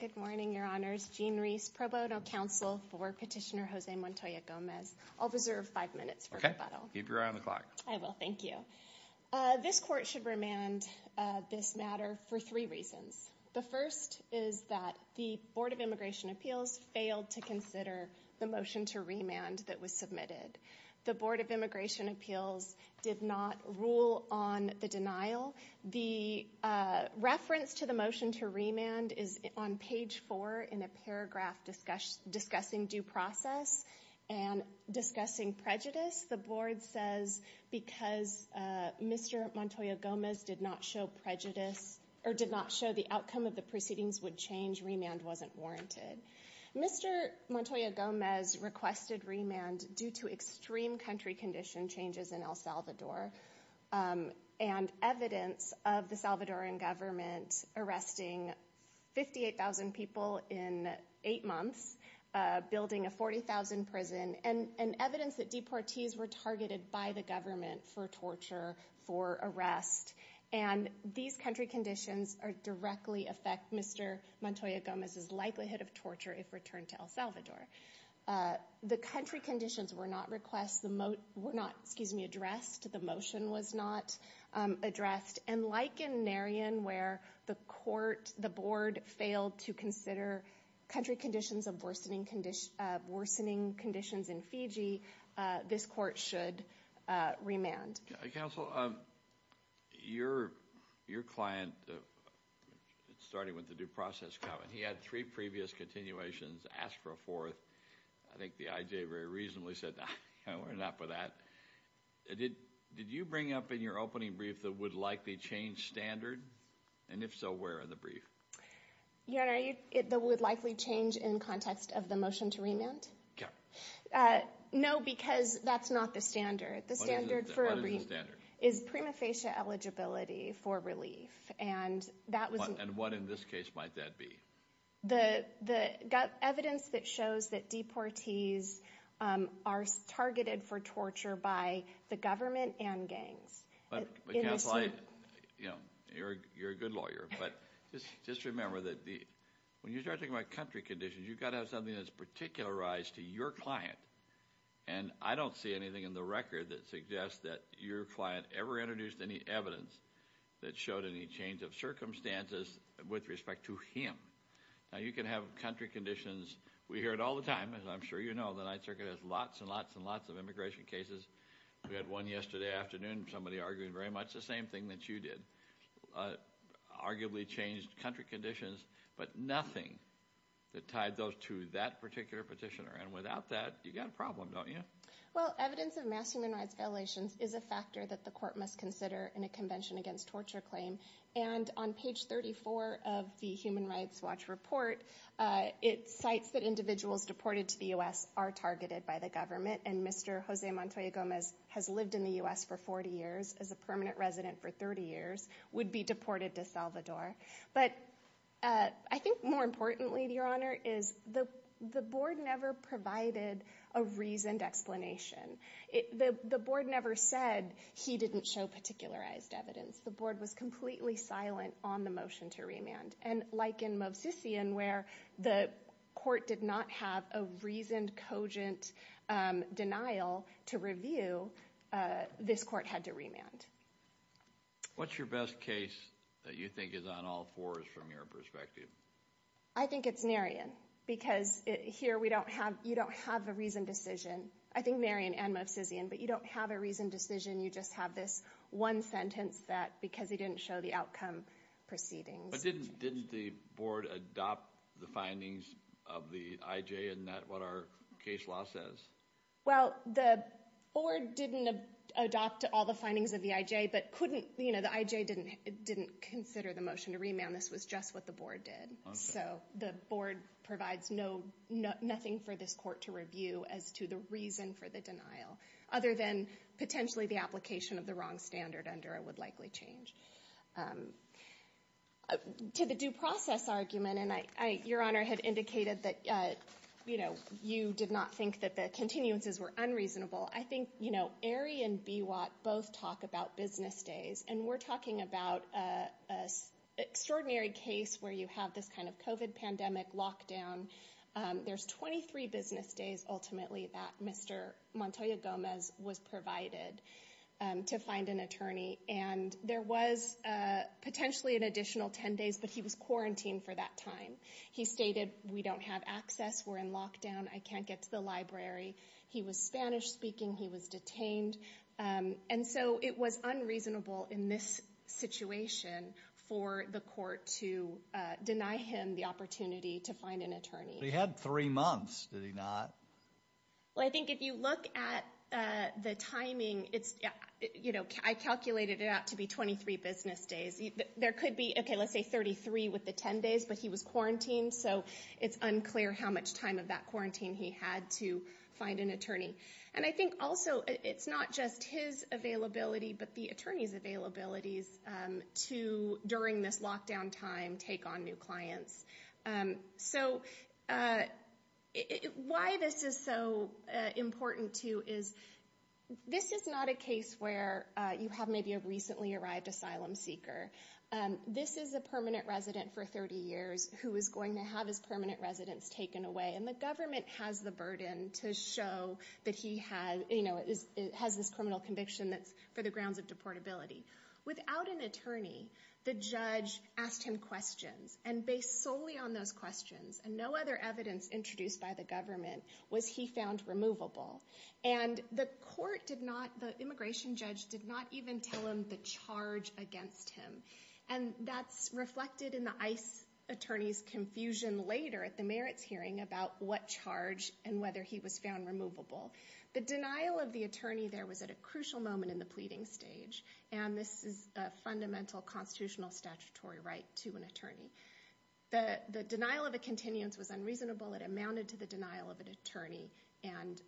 Good morning, your honors. Jean Reese, pro bono counsel for Petitioner Jose Montoya Gomez. I'll reserve five minutes for rebuttal. Keep your eye on the clock. I will. Thank you. This court should remand this matter for three reasons. The first is that the Board of Immigration Appeals failed to consider the motion to remand that was submitted. The Board of Immigration Appeals did not rule on the denial. The reference to the motion to remand is on page four in a paragraph discussing due process and discussing prejudice. The Board says because Mr. Montoya Gomez did not show prejudice or did not show the outcome of the proceedings would change, remand wasn't warranted. Mr. Montoya Gomez requested remand due to extreme country condition changes in El Salvador and evidence of the Salvadoran government arresting 58,000 people in eight months, building a 40,000 prison, and evidence that deportees were targeted by the government for torture, for arrest. And these country conditions directly affect Mr. Montoya Gomez's likelihood of torture if returned to El Salvador. The country conditions were not addressed. The motion was not addressed. And like in Naryan where the board failed to consider country conditions of worsening conditions in Fiji, this court should remand. Counsel, your client, starting with the due process comment, he had three previous continuations, asked for a fourth. I think the IJ very reasonably said, no, we're not for that. Did you bring up in your opening brief the would-likely-change standard? And if so, where in the brief? The would-likely-change in context of the motion to remand? No, because that's not the standard. What is the standard? The standard for a brief is prima facie eligibility for relief. And that was... And what in this case might that be? The evidence that shows that deportees are targeted for torture by the government and gangs. But, you know, you're a good lawyer, but just remember that when you start talking about country conditions, you've got to have something that's particularized to your client. And I don't see anything in the record that suggests that your client ever introduced any evidence that showed any change of circumstances with respect to him. Now, you can have country conditions... We hear it all the time, as I'm sure you know, the Ninth Circuit has lots and lots and lots of immigration cases. We had one yesterday afternoon, somebody arguing very much the same thing that you did, arguably changed country conditions, but nothing that tied those to that particular petitioner. And without that, you've got a problem, don't you? Well, evidence of mass human rights violations is a factor that the court must consider in a Convention Against Torture claim. And on page 34 of the Human Rights Watch report, it cites that individuals deported to the U.S. are targeted by the government. And Mr. Jose Montoya Gomez has lived in the U.S. for 40 years, is a permanent resident for 30 years, would be deported to Salvador. But I think more importantly, Your Honor, is the board never provided a reasoned explanation. The board never said he didn't show particularized evidence. The board was completely silent on the motion to remand. And like in Movsician, where the court did not have a reasoned, cogent denial to review, this court had to remand. What's your best case that you think is on all fours from your perspective? I think it's Narion, because here we don't have, you don't have a reasoned decision. I think Narion and Movsician, but you don't have a reasoned decision. You just have this one sentence that, because he didn't show the outcome proceedings. But didn't the board adopt the findings of the IJ in that, what our case law says? Well, the board didn't adopt all the findings of the IJ, but couldn't, you know, the IJ didn't consider the motion to remand. This was just what the board did. So the board provides no, nothing for this court to review as to the reason for the denial, other than potentially the application of the wrong standard under it would likely change. To the due process argument, and I, Your Honor had indicated that, you know, you did not think that the continuances were unreasonable. I think, you know, Aerie and Bewatt both talk about business days. And we're talking about a extraordinary case where you have this kind of COVID pandemic lockdown. There's 23 business days, ultimately, that Mr. Montoya Gomez was provided to find an attorney. And there was potentially an additional 10 days, but he was quarantined for that time. He stated, we don't have access, we're in lockdown, I can't get to the library. He was Spanish speaking, he was detained. And so it was unreasonable in this situation for the court to deny him the opportunity to find an attorney. But he had three months, did he not? Well, I think if you look at the timing, it's, you know, I calculated it out to be 23 business days. There could be, okay, let's say 33 with the 10 days, but he was quarantined. So it's unclear how much time of that quarantine he had to find an attorney. And I think also, it's not just his availability, but the attorney's availabilities to, during this lockdown time, take on new clients. So why this is so important too is, this is not a case where you have maybe a recently arrived asylum seeker. This is a permanent resident for 30 years, who is going to have his permanent residence taken away. And the government has the burden to show that he has this criminal conviction that's for the grounds of deportability. Without an attorney, the judge asked him questions. And based solely on those questions, and no other evidence introduced by the government, was he found removable. And the immigration judge did not even tell him the charge against him. And that's reflected in the ICE attorney's confusion later at the merits hearing about what charge and whether he was found removable. The denial of the attorney there was at a crucial moment in the pleading stage. And this is a fundamental constitutional statutory right to an attorney. The denial of a continuance was unreasonable. It amounted to the denial of an attorney. And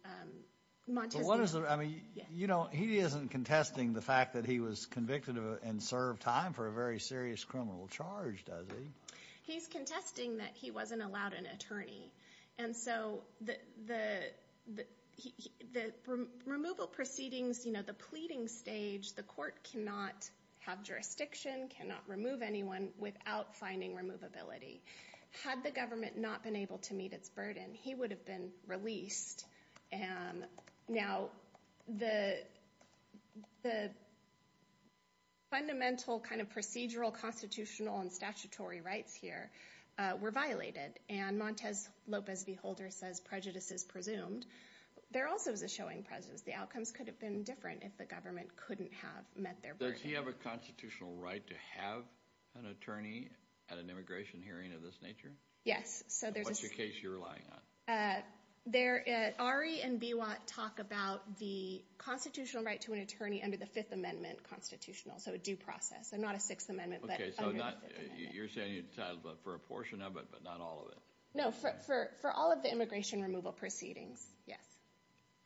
Montesquieu- But what is the, I mean, he isn't contesting the fact that he was convicted of and served time for a very serious criminal charge, does he? He's contesting that he wasn't allowed an attorney. And so the removal proceedings, the pleading stage, the court cannot have jurisdiction, cannot remove anyone without finding removability. Had the government not been able to meet its burden, he would have been released. And now the fundamental kind of procedural, constitutional, and statutory rights here were violated. And Montes Lopez V Holder says prejudice is presumed. There also is a showing presence. The outcomes could have been different if the government couldn't have met their burden. Does he have a constitutional right to have an attorney at an immigration hearing of this nature? Yes, so there's a- What's your case you're relying on? Ari and Biwat talk about the constitutional right to an attorney under the Fifth Amendment constitutional, so a due process, and not a Sixth Amendment, but under the Fifth Amendment. You're saying you're entitled for a portion of it, but not all of it? No, for all of the immigration removal proceedings, yes.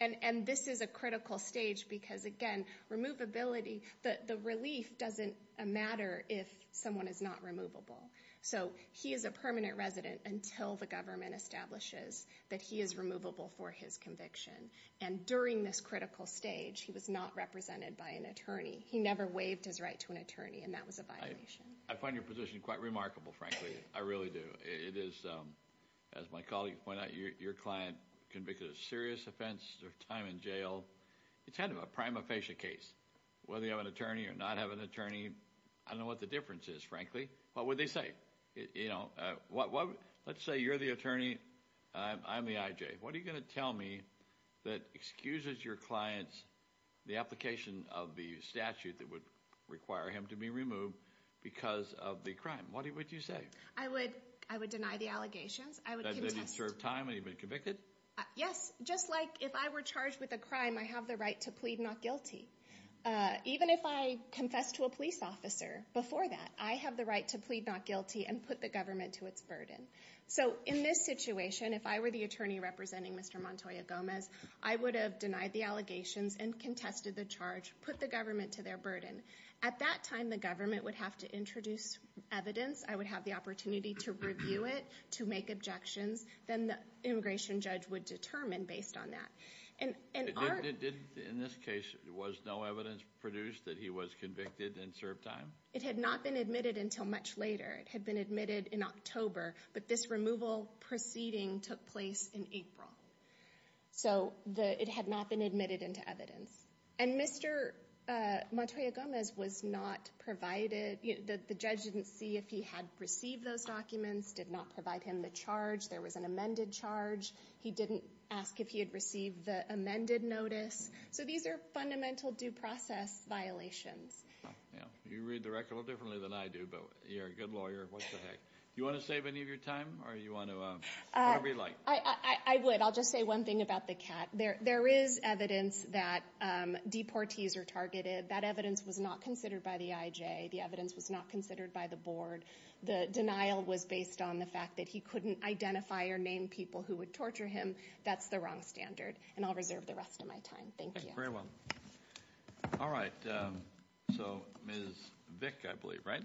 And this is a critical stage because, again, removability, the relief doesn't matter if someone is not removable. So he is a permanent resident until the government establishes that he is removable for his conviction, and during this critical stage, he was not represented by an attorney. He never waived his right to an attorney, and that was a violation. I find your position quite remarkable, frankly, I really do. It is, as my colleague pointed out, your client convicted a serious offense, served time in jail, it's kind of a prima facie case. Whether you have an attorney or not have an attorney, I don't know what the difference is, frankly. What would they say? Let's say you're the attorney, I'm the IJ. What are you going to tell me that excuses your client's, the application of the statute that would require him to be removed because of the crime? What would you say? I would deny the allegations. I would contest- That he served time and he'd been convicted? Yes, just like if I were charged with a crime, I have the right to plead not guilty. Even if I confess to a police officer before that, I have the right to plead not guilty and put the government to its burden. So in this situation, if I were the attorney representing Mr. Montoya Gomez, I would have denied the allegations and contested the charge, put the government to their burden. At that time, the government would have to introduce evidence. I would have the opportunity to review it, to make objections. Then the immigration judge would determine based on that. And in this case, was no evidence produced that he was convicted and served time? It had not been admitted until much later. It had been admitted in October, but this removal proceeding took place in April. So it had not been admitted into evidence. And Mr. Montoya Gomez was not provided, the judge didn't see if he had received those documents, did not provide him the charge. There was an amended charge. He didn't ask if he had received the amended notice. So these are fundamental due process violations. Yeah, you read the record a little differently than I do, but you're a good lawyer. What the heck. You want to save any of your time, or you want to, whatever you'd like. I would. I'll just say one thing about the cat. There is evidence that deportees are targeted. That evidence was not considered by the IJ. The evidence was not considered by the board. The denial was based on the fact that he couldn't identify or name people who would torture him. That's the wrong standard. And I'll reserve the rest of my time. Thank you. Very well. All right, so Ms. Vick, I believe, right?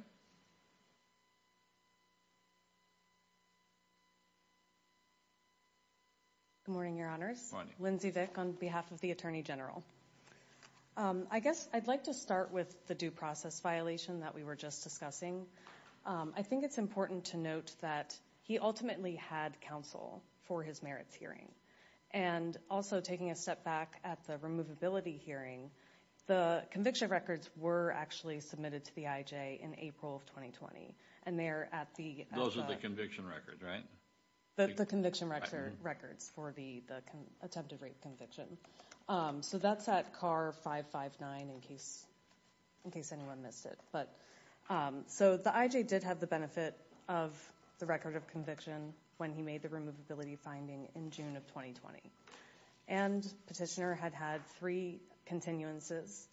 Good morning, your honors. Good morning. Lindsey Vick on behalf of the Attorney General. I guess I'd like to start with the due process violation that we were just discussing. I think it's important to note that he ultimately had counsel for his merits hearing. And also taking a step back at the removability hearing, the conviction records were actually submitted to the IJ in April of 2020. And they're at the- Those are the conviction records, right? The conviction records for the attempted rape conviction. So that's at car 559 in case anyone missed it. But so the IJ did have the benefit of the record of conviction when he made the removability finding in June of 2020. And petitioner had had three continuances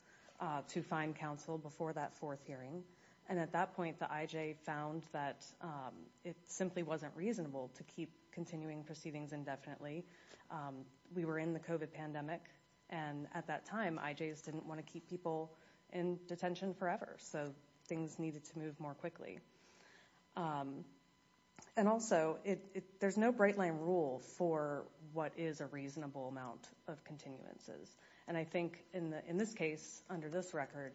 to find counsel before that fourth hearing. And at that point, the IJ found that it simply wasn't reasonable to keep continuing proceedings indefinitely, we were in the COVID pandemic. And at that time, IJs didn't wanna keep people in detention forever. So things needed to move more quickly. And also, there's no bright line rule for what is a reasonable amount of continuances. And I think in this case, under this record,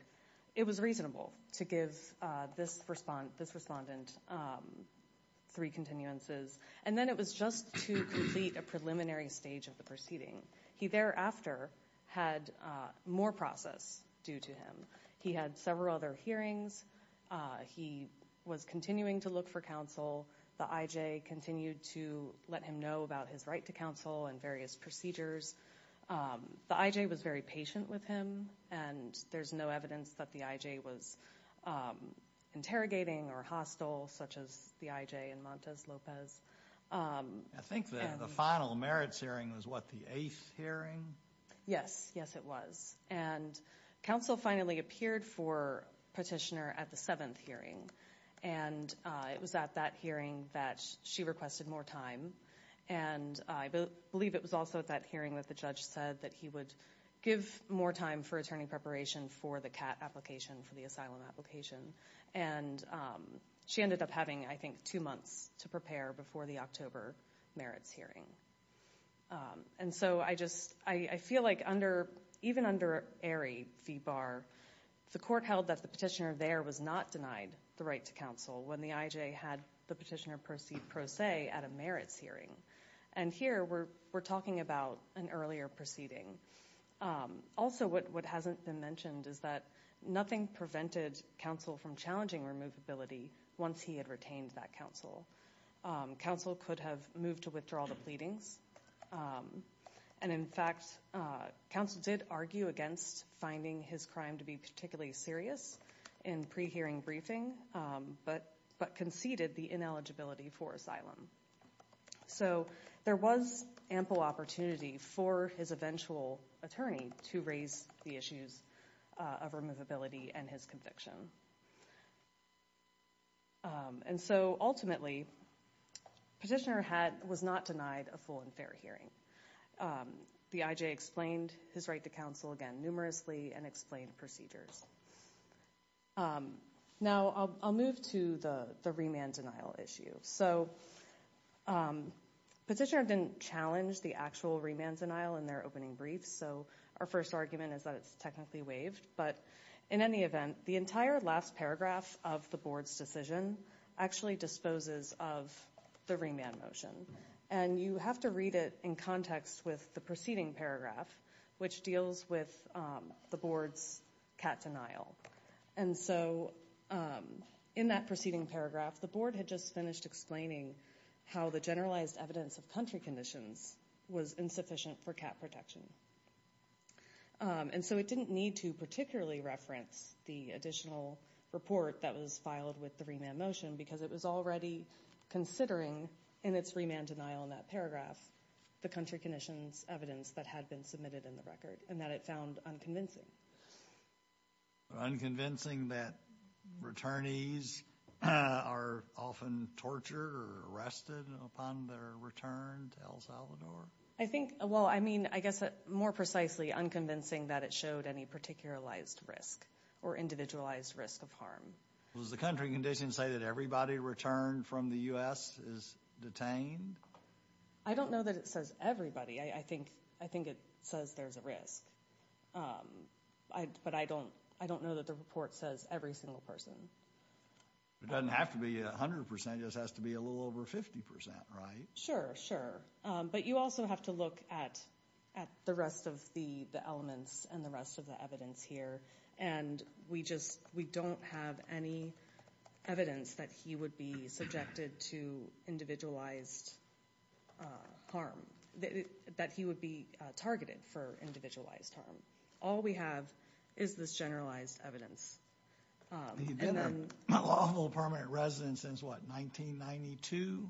it was reasonable to give this respondent three continuances. And then it was just to complete a preliminary stage of the proceeding. He thereafter had more process due to him. He had several other hearings. He was continuing to look for counsel. The IJ continued to let him know about his right to counsel and various procedures. The IJ was very patient with him. And there's no evidence that the IJ was interrogating or hostile, such as the IJ in Montes Lopez. And- I think that the final merits hearing was what, the eighth hearing? Yes, yes it was. And counsel finally appeared for petitioner at the seventh hearing. And it was at that hearing that she requested more time. And I believe it was also at that hearing that the judge said that he would give more time for attorney preparation for the CAT application, for the asylum application. And she ended up having, I think, two months to prepare before the October merits hearing. And so I just, I feel like under, even under Aerie v. Barr, the court held that the petitioner there was not denied the right to counsel when the IJ had the petitioner proceed pro se at a merits hearing. And here we're talking about an earlier proceeding. Also what hasn't been mentioned is that nothing prevented counsel from challenging removability once he had retained that counsel. Counsel could have moved to withdraw the pleadings. And in fact, counsel did argue against finding his crime to be particularly serious in pre-hearing briefing, but conceded the ineligibility for asylum. So there was ample opportunity for his eventual attorney to raise the issues of removability and his conviction. And so ultimately, petitioner was not denied a full and fair hearing. The IJ explained his right to counsel again numerously and explained procedures. Now, I'll move to the remand denial issue. So petitioner didn't challenge the actual remand denial in their opening briefs. So our first argument is that it's technically waived. But in any event, the entire remand denial process, the entire last paragraph of the board's decision actually disposes of the remand motion. And you have to read it in context with the preceding paragraph, which deals with the board's cat denial. And so in that preceding paragraph, the board had just finished explaining how the generalized evidence of country conditions was insufficient for cat protection. And so it didn't need to particularly reference the additional report that was filed with the remand motion because it was already considering in its remand denial in that paragraph, the country conditions evidence that had been submitted in the record and that it found unconvincing. Unconvincing that returnees are often tortured or arrested upon their return to El Salvador? I think, well, I mean, I guess, more precisely, unconvincing that it showed any particularized risk or individualized risk of harm. Does the country condition say that everybody returned from the U.S. is detained? I don't know that it says everybody. I think it says there's a risk. But I don't know that the report says every single person. It doesn't have to be 100%. It just has to be a little over 50%, right? Sure, sure. But you also have to look at the rest of the elements and the rest of the evidence here. And we just we don't have any evidence that he would be subjected to individualized harm, that he would be targeted for individualized harm. All we have is this generalized evidence. He's been a lawful permanent resident since, what, 1992?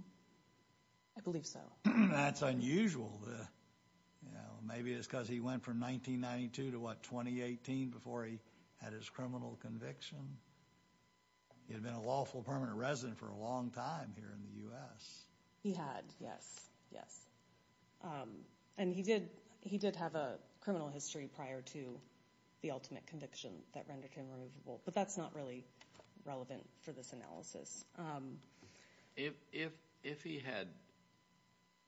I believe so. That's unusual. Maybe it's because he went from 1992 to, what, 2018 before he had his criminal conviction. He had been a lawful permanent resident for a long time here in the U.S. He had, yes, yes. And he did have a criminal history prior to the ultimate conviction that rendered him removable. But that's not really relevant for this analysis. If he had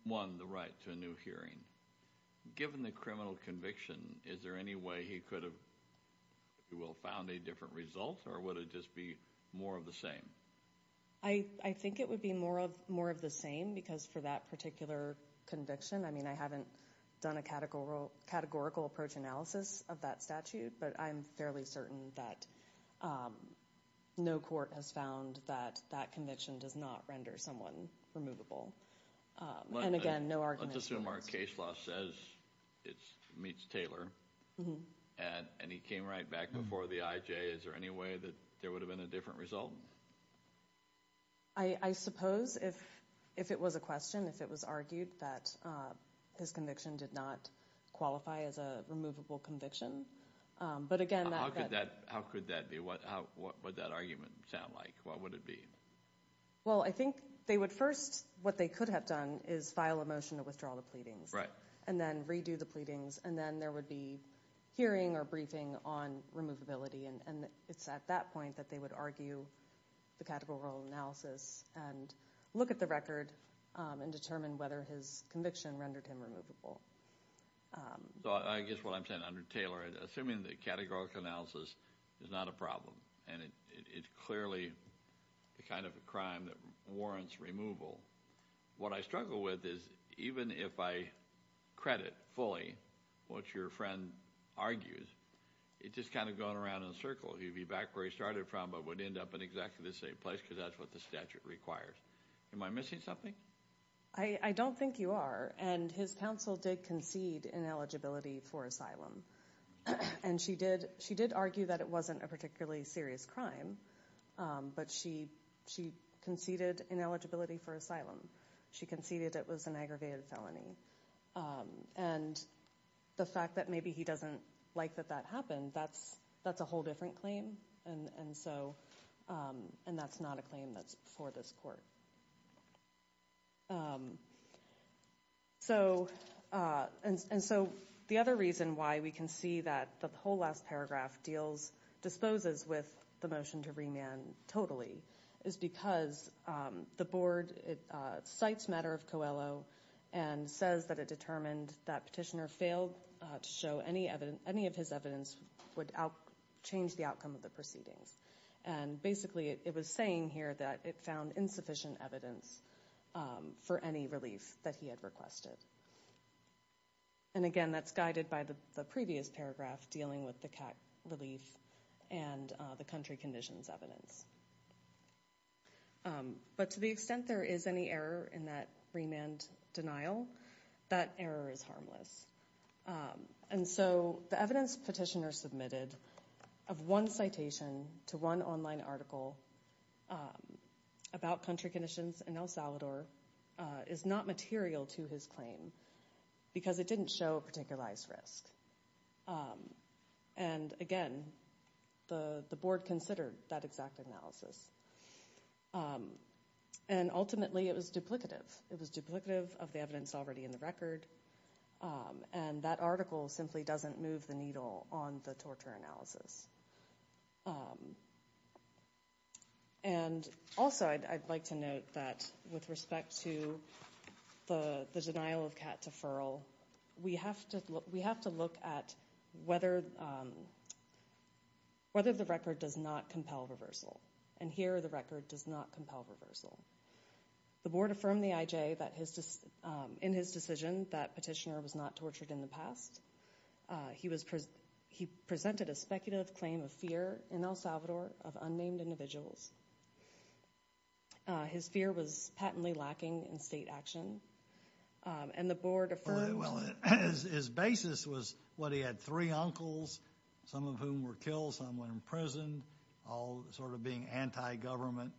won the right to a new hearing, given the criminal conviction, is there any way he could have found a different result, or would it just be more of the same? I think it would be more of the same, because for that particular conviction, I mean, I haven't done a categorical approach analysis of that statute, but I'm fairly certain that no court has found that that conviction does not render someone removable. And again, no argument. Let's assume our case law says it meets Taylor, and he came right back before the IJ. Is there any way that there would have been a different result? I suppose if it was a question, if it was argued that his conviction did not qualify as a removable conviction. But again— How could that be? What would that argument sound like? What would it be? Well, I think they would first—what they could have done is file a motion to withdraw the pleadings, and then redo the pleadings, and then there would be hearing or briefing on removability, and it's at that point that they would argue the categorical analysis and look at the record and determine whether his conviction rendered him removable. I guess what I'm saying under Taylor, assuming the categorical analysis is not a problem, and it's clearly the kind of a crime that warrants removal, what I struggle with is even if I credit fully what your friend argues, it's just kind of going around in a circle. He'd be back where he started from but would end up in exactly the same place because that's what the statute requires. Am I missing something? I don't think you are, and his counsel did concede ineligibility for asylum, and she did argue that it wasn't a particularly serious crime, but she conceded ineligibility for asylum. She conceded it was an aggravated felony, and the fact that maybe he doesn't like that that happened, that's a whole different claim, and that's not a claim that's before this court. And so the other reason why we can see that the whole last paragraph disposes with the motion to remand totally is because the board cites matter of Coelho and says that it determined that Petitioner failed to show any of his evidence would change the outcome of the proceedings, and basically it was saying here that it found insufficient evidence for any relief that he had requested. And again, that's guided by the previous paragraph dealing with the CAC relief and the country conditions evidence. But to the extent there is any error in that remand denial, that error is harmless. And so the evidence Petitioner submitted of one citation to one online article about country conditions in El Salvador is not material to his claim because it didn't show a particularized risk. And again, the board considered that exact analysis, and ultimately it was duplicative. It was duplicative of the evidence already in the record, and that article simply doesn't move the needle on the torture analysis. And also I'd like to note that with respect to the denial of CAT deferral, we have to look at whether the record does not compel reversal, and here the record does not compel reversal. The board affirmed in his decision that Petitioner was not tortured in the past. He presented a speculative claim of fear in El Salvador of unnamed individuals. His fear was patently lacking in state action, and the board affirmed. Well, his basis was what he had three uncles, some of whom were killed, some were imprisoned, all sort of being anti-government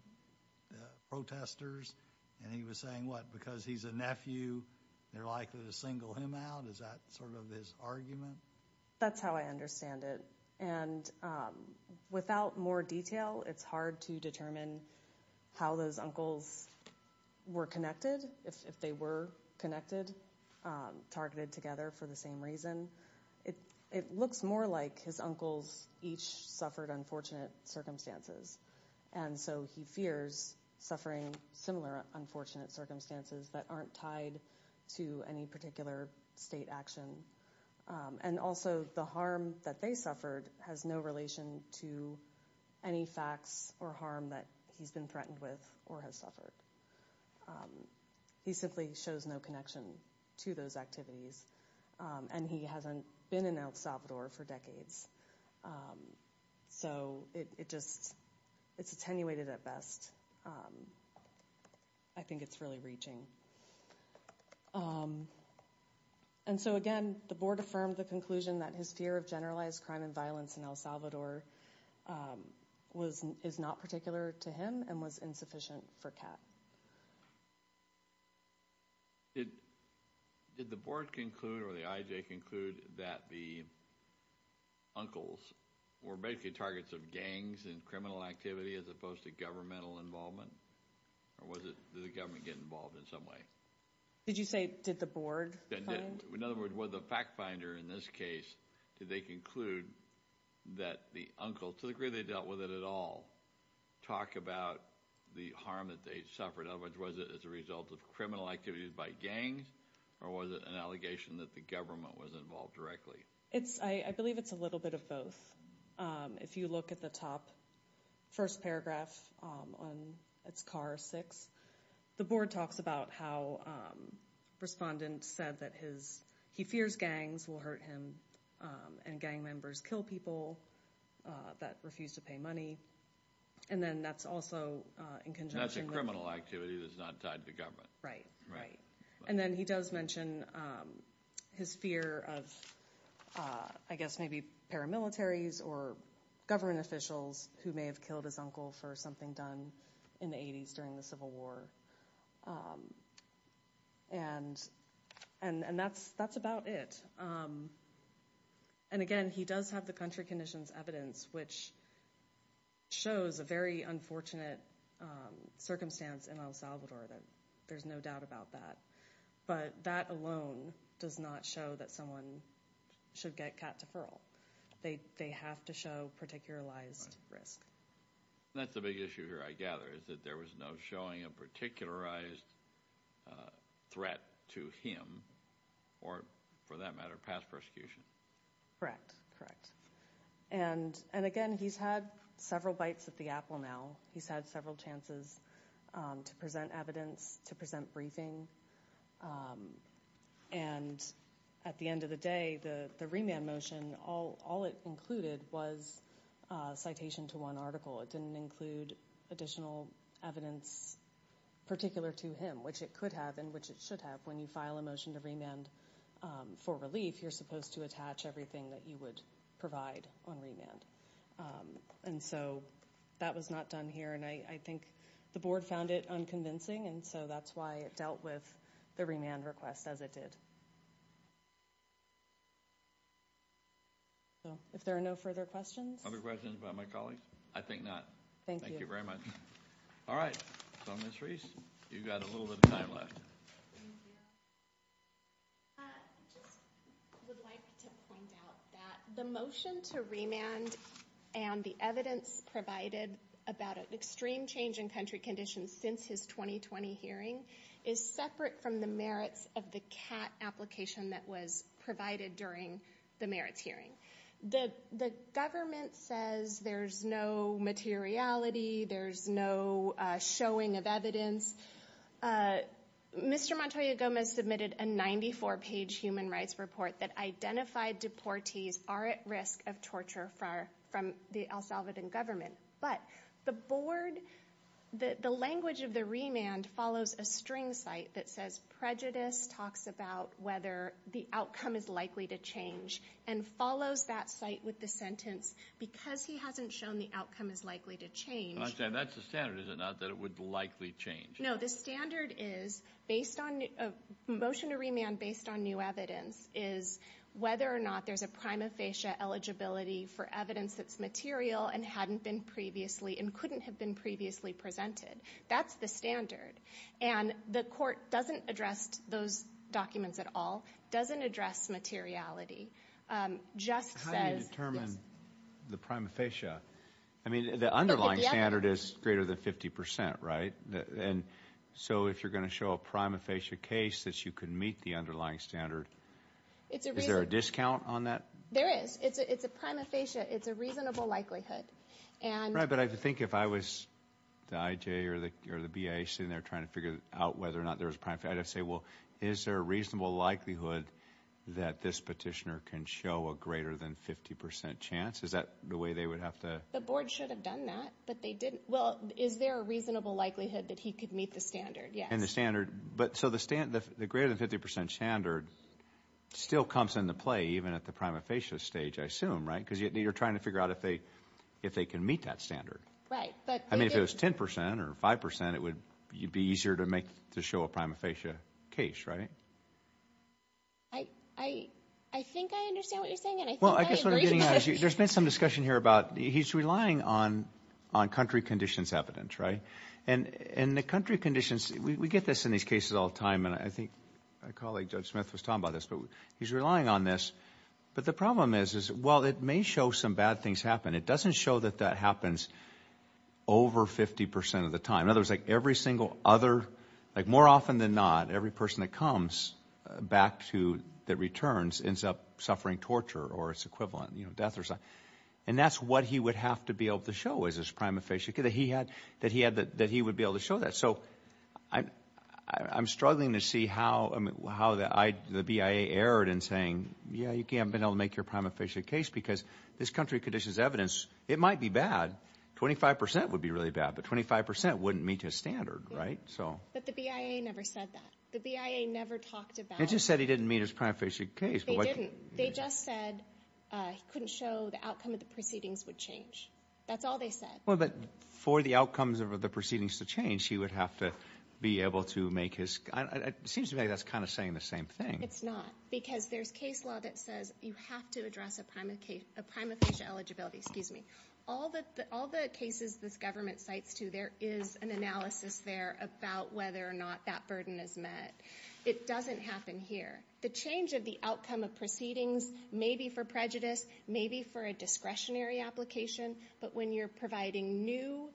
protesters, and he was saying, what, because he's a nephew, they're likely to single him out? Is that sort of his argument? That's how I understand it, and without more detail, it's hard to determine how those uncles were connected, if they were connected, targeted together for the same reason. It looks more like his uncles each suffered unfortunate circumstances, and so he fears suffering similar unfortunate circumstances that aren't tied to any particular state action. And also the harm that they suffered has no relation to any facts or harm that he's been threatened with or has suffered. He simply shows no connection to those activities, and he hasn't been in El Salvador for decades. So it's attenuated at best. I think it's really reaching. And so again, the board affirmed the conclusion that his fear of generalized crime and violence in El Salvador is not particular to him and was insufficient for CAT. Did the board conclude or the IJ conclude that the uncles were basically targets of gangs and criminal activity as opposed to governmental involvement, or did the government get involved in some way? Did you say did the board find? In other words, was the fact finder in this case, did they conclude that the uncle, to the degree they dealt with it at all, talk about the harm that they suffered? In other words, was it as a result of criminal activities by gangs, or was it an allegation that the government was involved directly? I believe it's a little bit of both. If you look at the top first paragraph, it's CAR 6. The board talks about how respondents said that he fears gangs will hurt him and gang members kill people that refuse to pay money. And then that's also in conjunction with- That's a criminal activity that's not tied to government. Right, right. And then he does mention his fear of, I guess, maybe paramilitaries or government officials who may have killed his uncle for something done in the 80s during the Civil War. And that's about it. And again, he does have the country conditions evidence, which shows a very unfortunate circumstance in El Salvador. There's no doubt about that. But that alone does not show that someone should get cat deferral. They have to show particularized risk. That's the big issue here, I gather, is that there was no showing a particularized threat to him or, for that matter, past persecution. Correct, correct. And again, he's had several bites at the apple now. He's had several chances to present evidence, to present briefing. And at the end of the day, the remand motion, all it included was citation to one article. It didn't include additional evidence particular to him, which it could have and which it should have. When you file a motion to remand for relief, you're supposed to attach everything that you would provide on remand. And so that was not done here, and I think the board found it unconvincing, and so that's why it dealt with the remand request as it did. If there are no further questions. Other questions by my colleagues? I think not. Thank you. Thank you very much. All right, so Ms. Reese, you've got a little bit of time left. Thank you. I just would like to point out that the motion to remand and the evidence provided about an extreme change in country conditions since his 2020 hearing is separate from the merits of the cat application that was provided during the merits hearing. The government says there's no materiality, there's no showing of evidence. Mr. Montoya Gomez submitted a 94-page human rights report that identified deportees are at risk of torture from the El Salvadoran government. But the language of the remand follows a string site that says prejudice talks about whether the outcome is likely to change and follows that site with the sentence because he hasn't shown the outcome is likely to change. That's the standard, is it not, that it would likely change? No, the standard is based on a motion to remand based on new evidence is whether or not there's a prima facie eligibility for evidence that's material and hadn't been previously and couldn't have been previously presented. That's the standard, and the court doesn't address those documents at all, doesn't address materiality, just says- How do you determine the prima facie? I mean, the underlying standard is greater than 50%, right? And so if you're going to show a prima facie case that you can meet the underlying standard, is there a discount on that? There is. It's a prima facie, it's a reasonable likelihood. Right, but I think if I was the IJ or the BA sitting there trying to figure out whether or not there's a prima facie, I'd have to say, well, is there a reasonable likelihood that this petitioner can show a greater than 50% chance? Is that the way they would have to- The board should have done that, but they didn't. Well, is there a reasonable likelihood that he could meet the standard? Yes. And the standard, but so the greater than 50% standard still comes into play even at the prima facie stage, I assume, right? Because you're trying to figure out if they can meet that standard. Right, but- it would be easier to show a prima facie case, right? I think I understand what you're saying, and I think I agree. Well, I guess what I'm getting at is there's been some discussion here about he's relying on country conditions evidence, right? And the country conditions, we get this in these cases all the time, and I think my colleague, Judge Smith, was talking about this, but he's relying on this. But the problem is, well, it may show some bad things happen. It doesn't show that that happens over 50% of the time. In other words, like every single other- like more often than not, every person that comes back to- that returns ends up suffering torture or its equivalent, you know, death or something. And that's what he would have to be able to show is his prima facie, that he would be able to show that. So I'm struggling to see how the BIA erred in saying, yeah, you haven't been able to make your prima facie case because this country conditions evidence, it might be bad. 25% would be really bad, but 25% wouldn't meet his standard, right? But the BIA never said that. The BIA never talked about- They just said he didn't meet his prima facie case. They didn't. They just said he couldn't show the outcome of the proceedings would change. That's all they said. Well, but for the outcomes of the proceedings to change, he would have to be able to make his- it seems to me that's kind of saying the same thing. It's not. Because there's case law that says you have to address a prima facie eligibility. Excuse me. All the cases this government cites, too, there is an analysis there about whether or not that burden is met. It doesn't happen here. The change of the outcome of proceedings may be for prejudice, may be for a discretionary application, but when you're providing new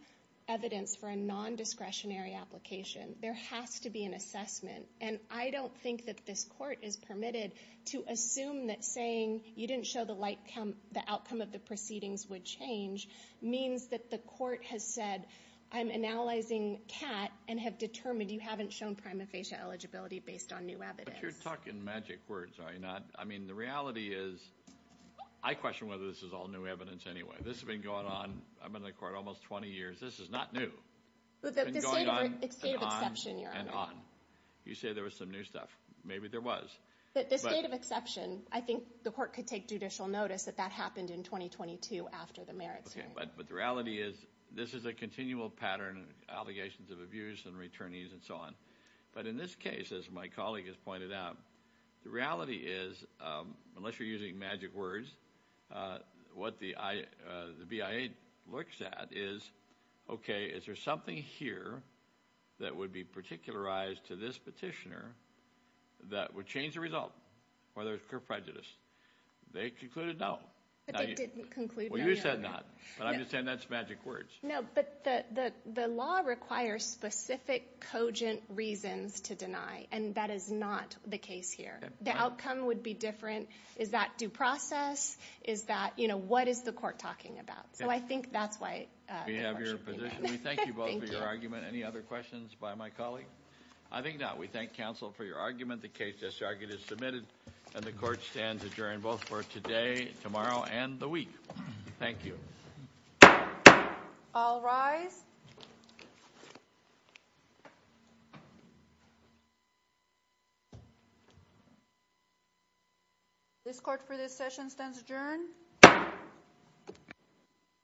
evidence for a nondiscretionary application, there has to be an assessment. And I don't think that this court is permitted to assume that saying you didn't show the outcome of the proceedings would change means that the court has said I'm analyzing Kat and have determined you haven't shown prima facie eligibility based on new evidence. But you're talking magic words, are you not? I mean, the reality is I question whether this is all new evidence anyway. This has been going on in the court almost 20 years. This is not new. It's been going on and on and on. You say there was some new stuff. Maybe there was. The state of exception, I think the court could take judicial notice that that happened in 2022 after the merits hearing. But the reality is this is a continual pattern, allegations of abuse and returnees and so on. But in this case, as my colleague has pointed out, the reality is unless you're using magic words, what the BIA looks at is, okay, is there something here that would be particularized to this petitioner that would change the result, whether it's pure prejudice? They concluded no. But they didn't conclude no. Well, you said not. But I'm just saying that's magic words. No, but the law requires specific cogent reasons to deny, and that is not the case here. The outcome would be different. Is that due process? Is that, you know, what is the court talking about? So I think that's why the question came in. We have your position. We thank you both for your argument. Any other questions by my colleague? I think not. We thank counsel for your argument. The case as argued is submitted, and the court stands adjourned both for today, tomorrow, and the week. Thank you. All rise. This court for this session stands adjourned.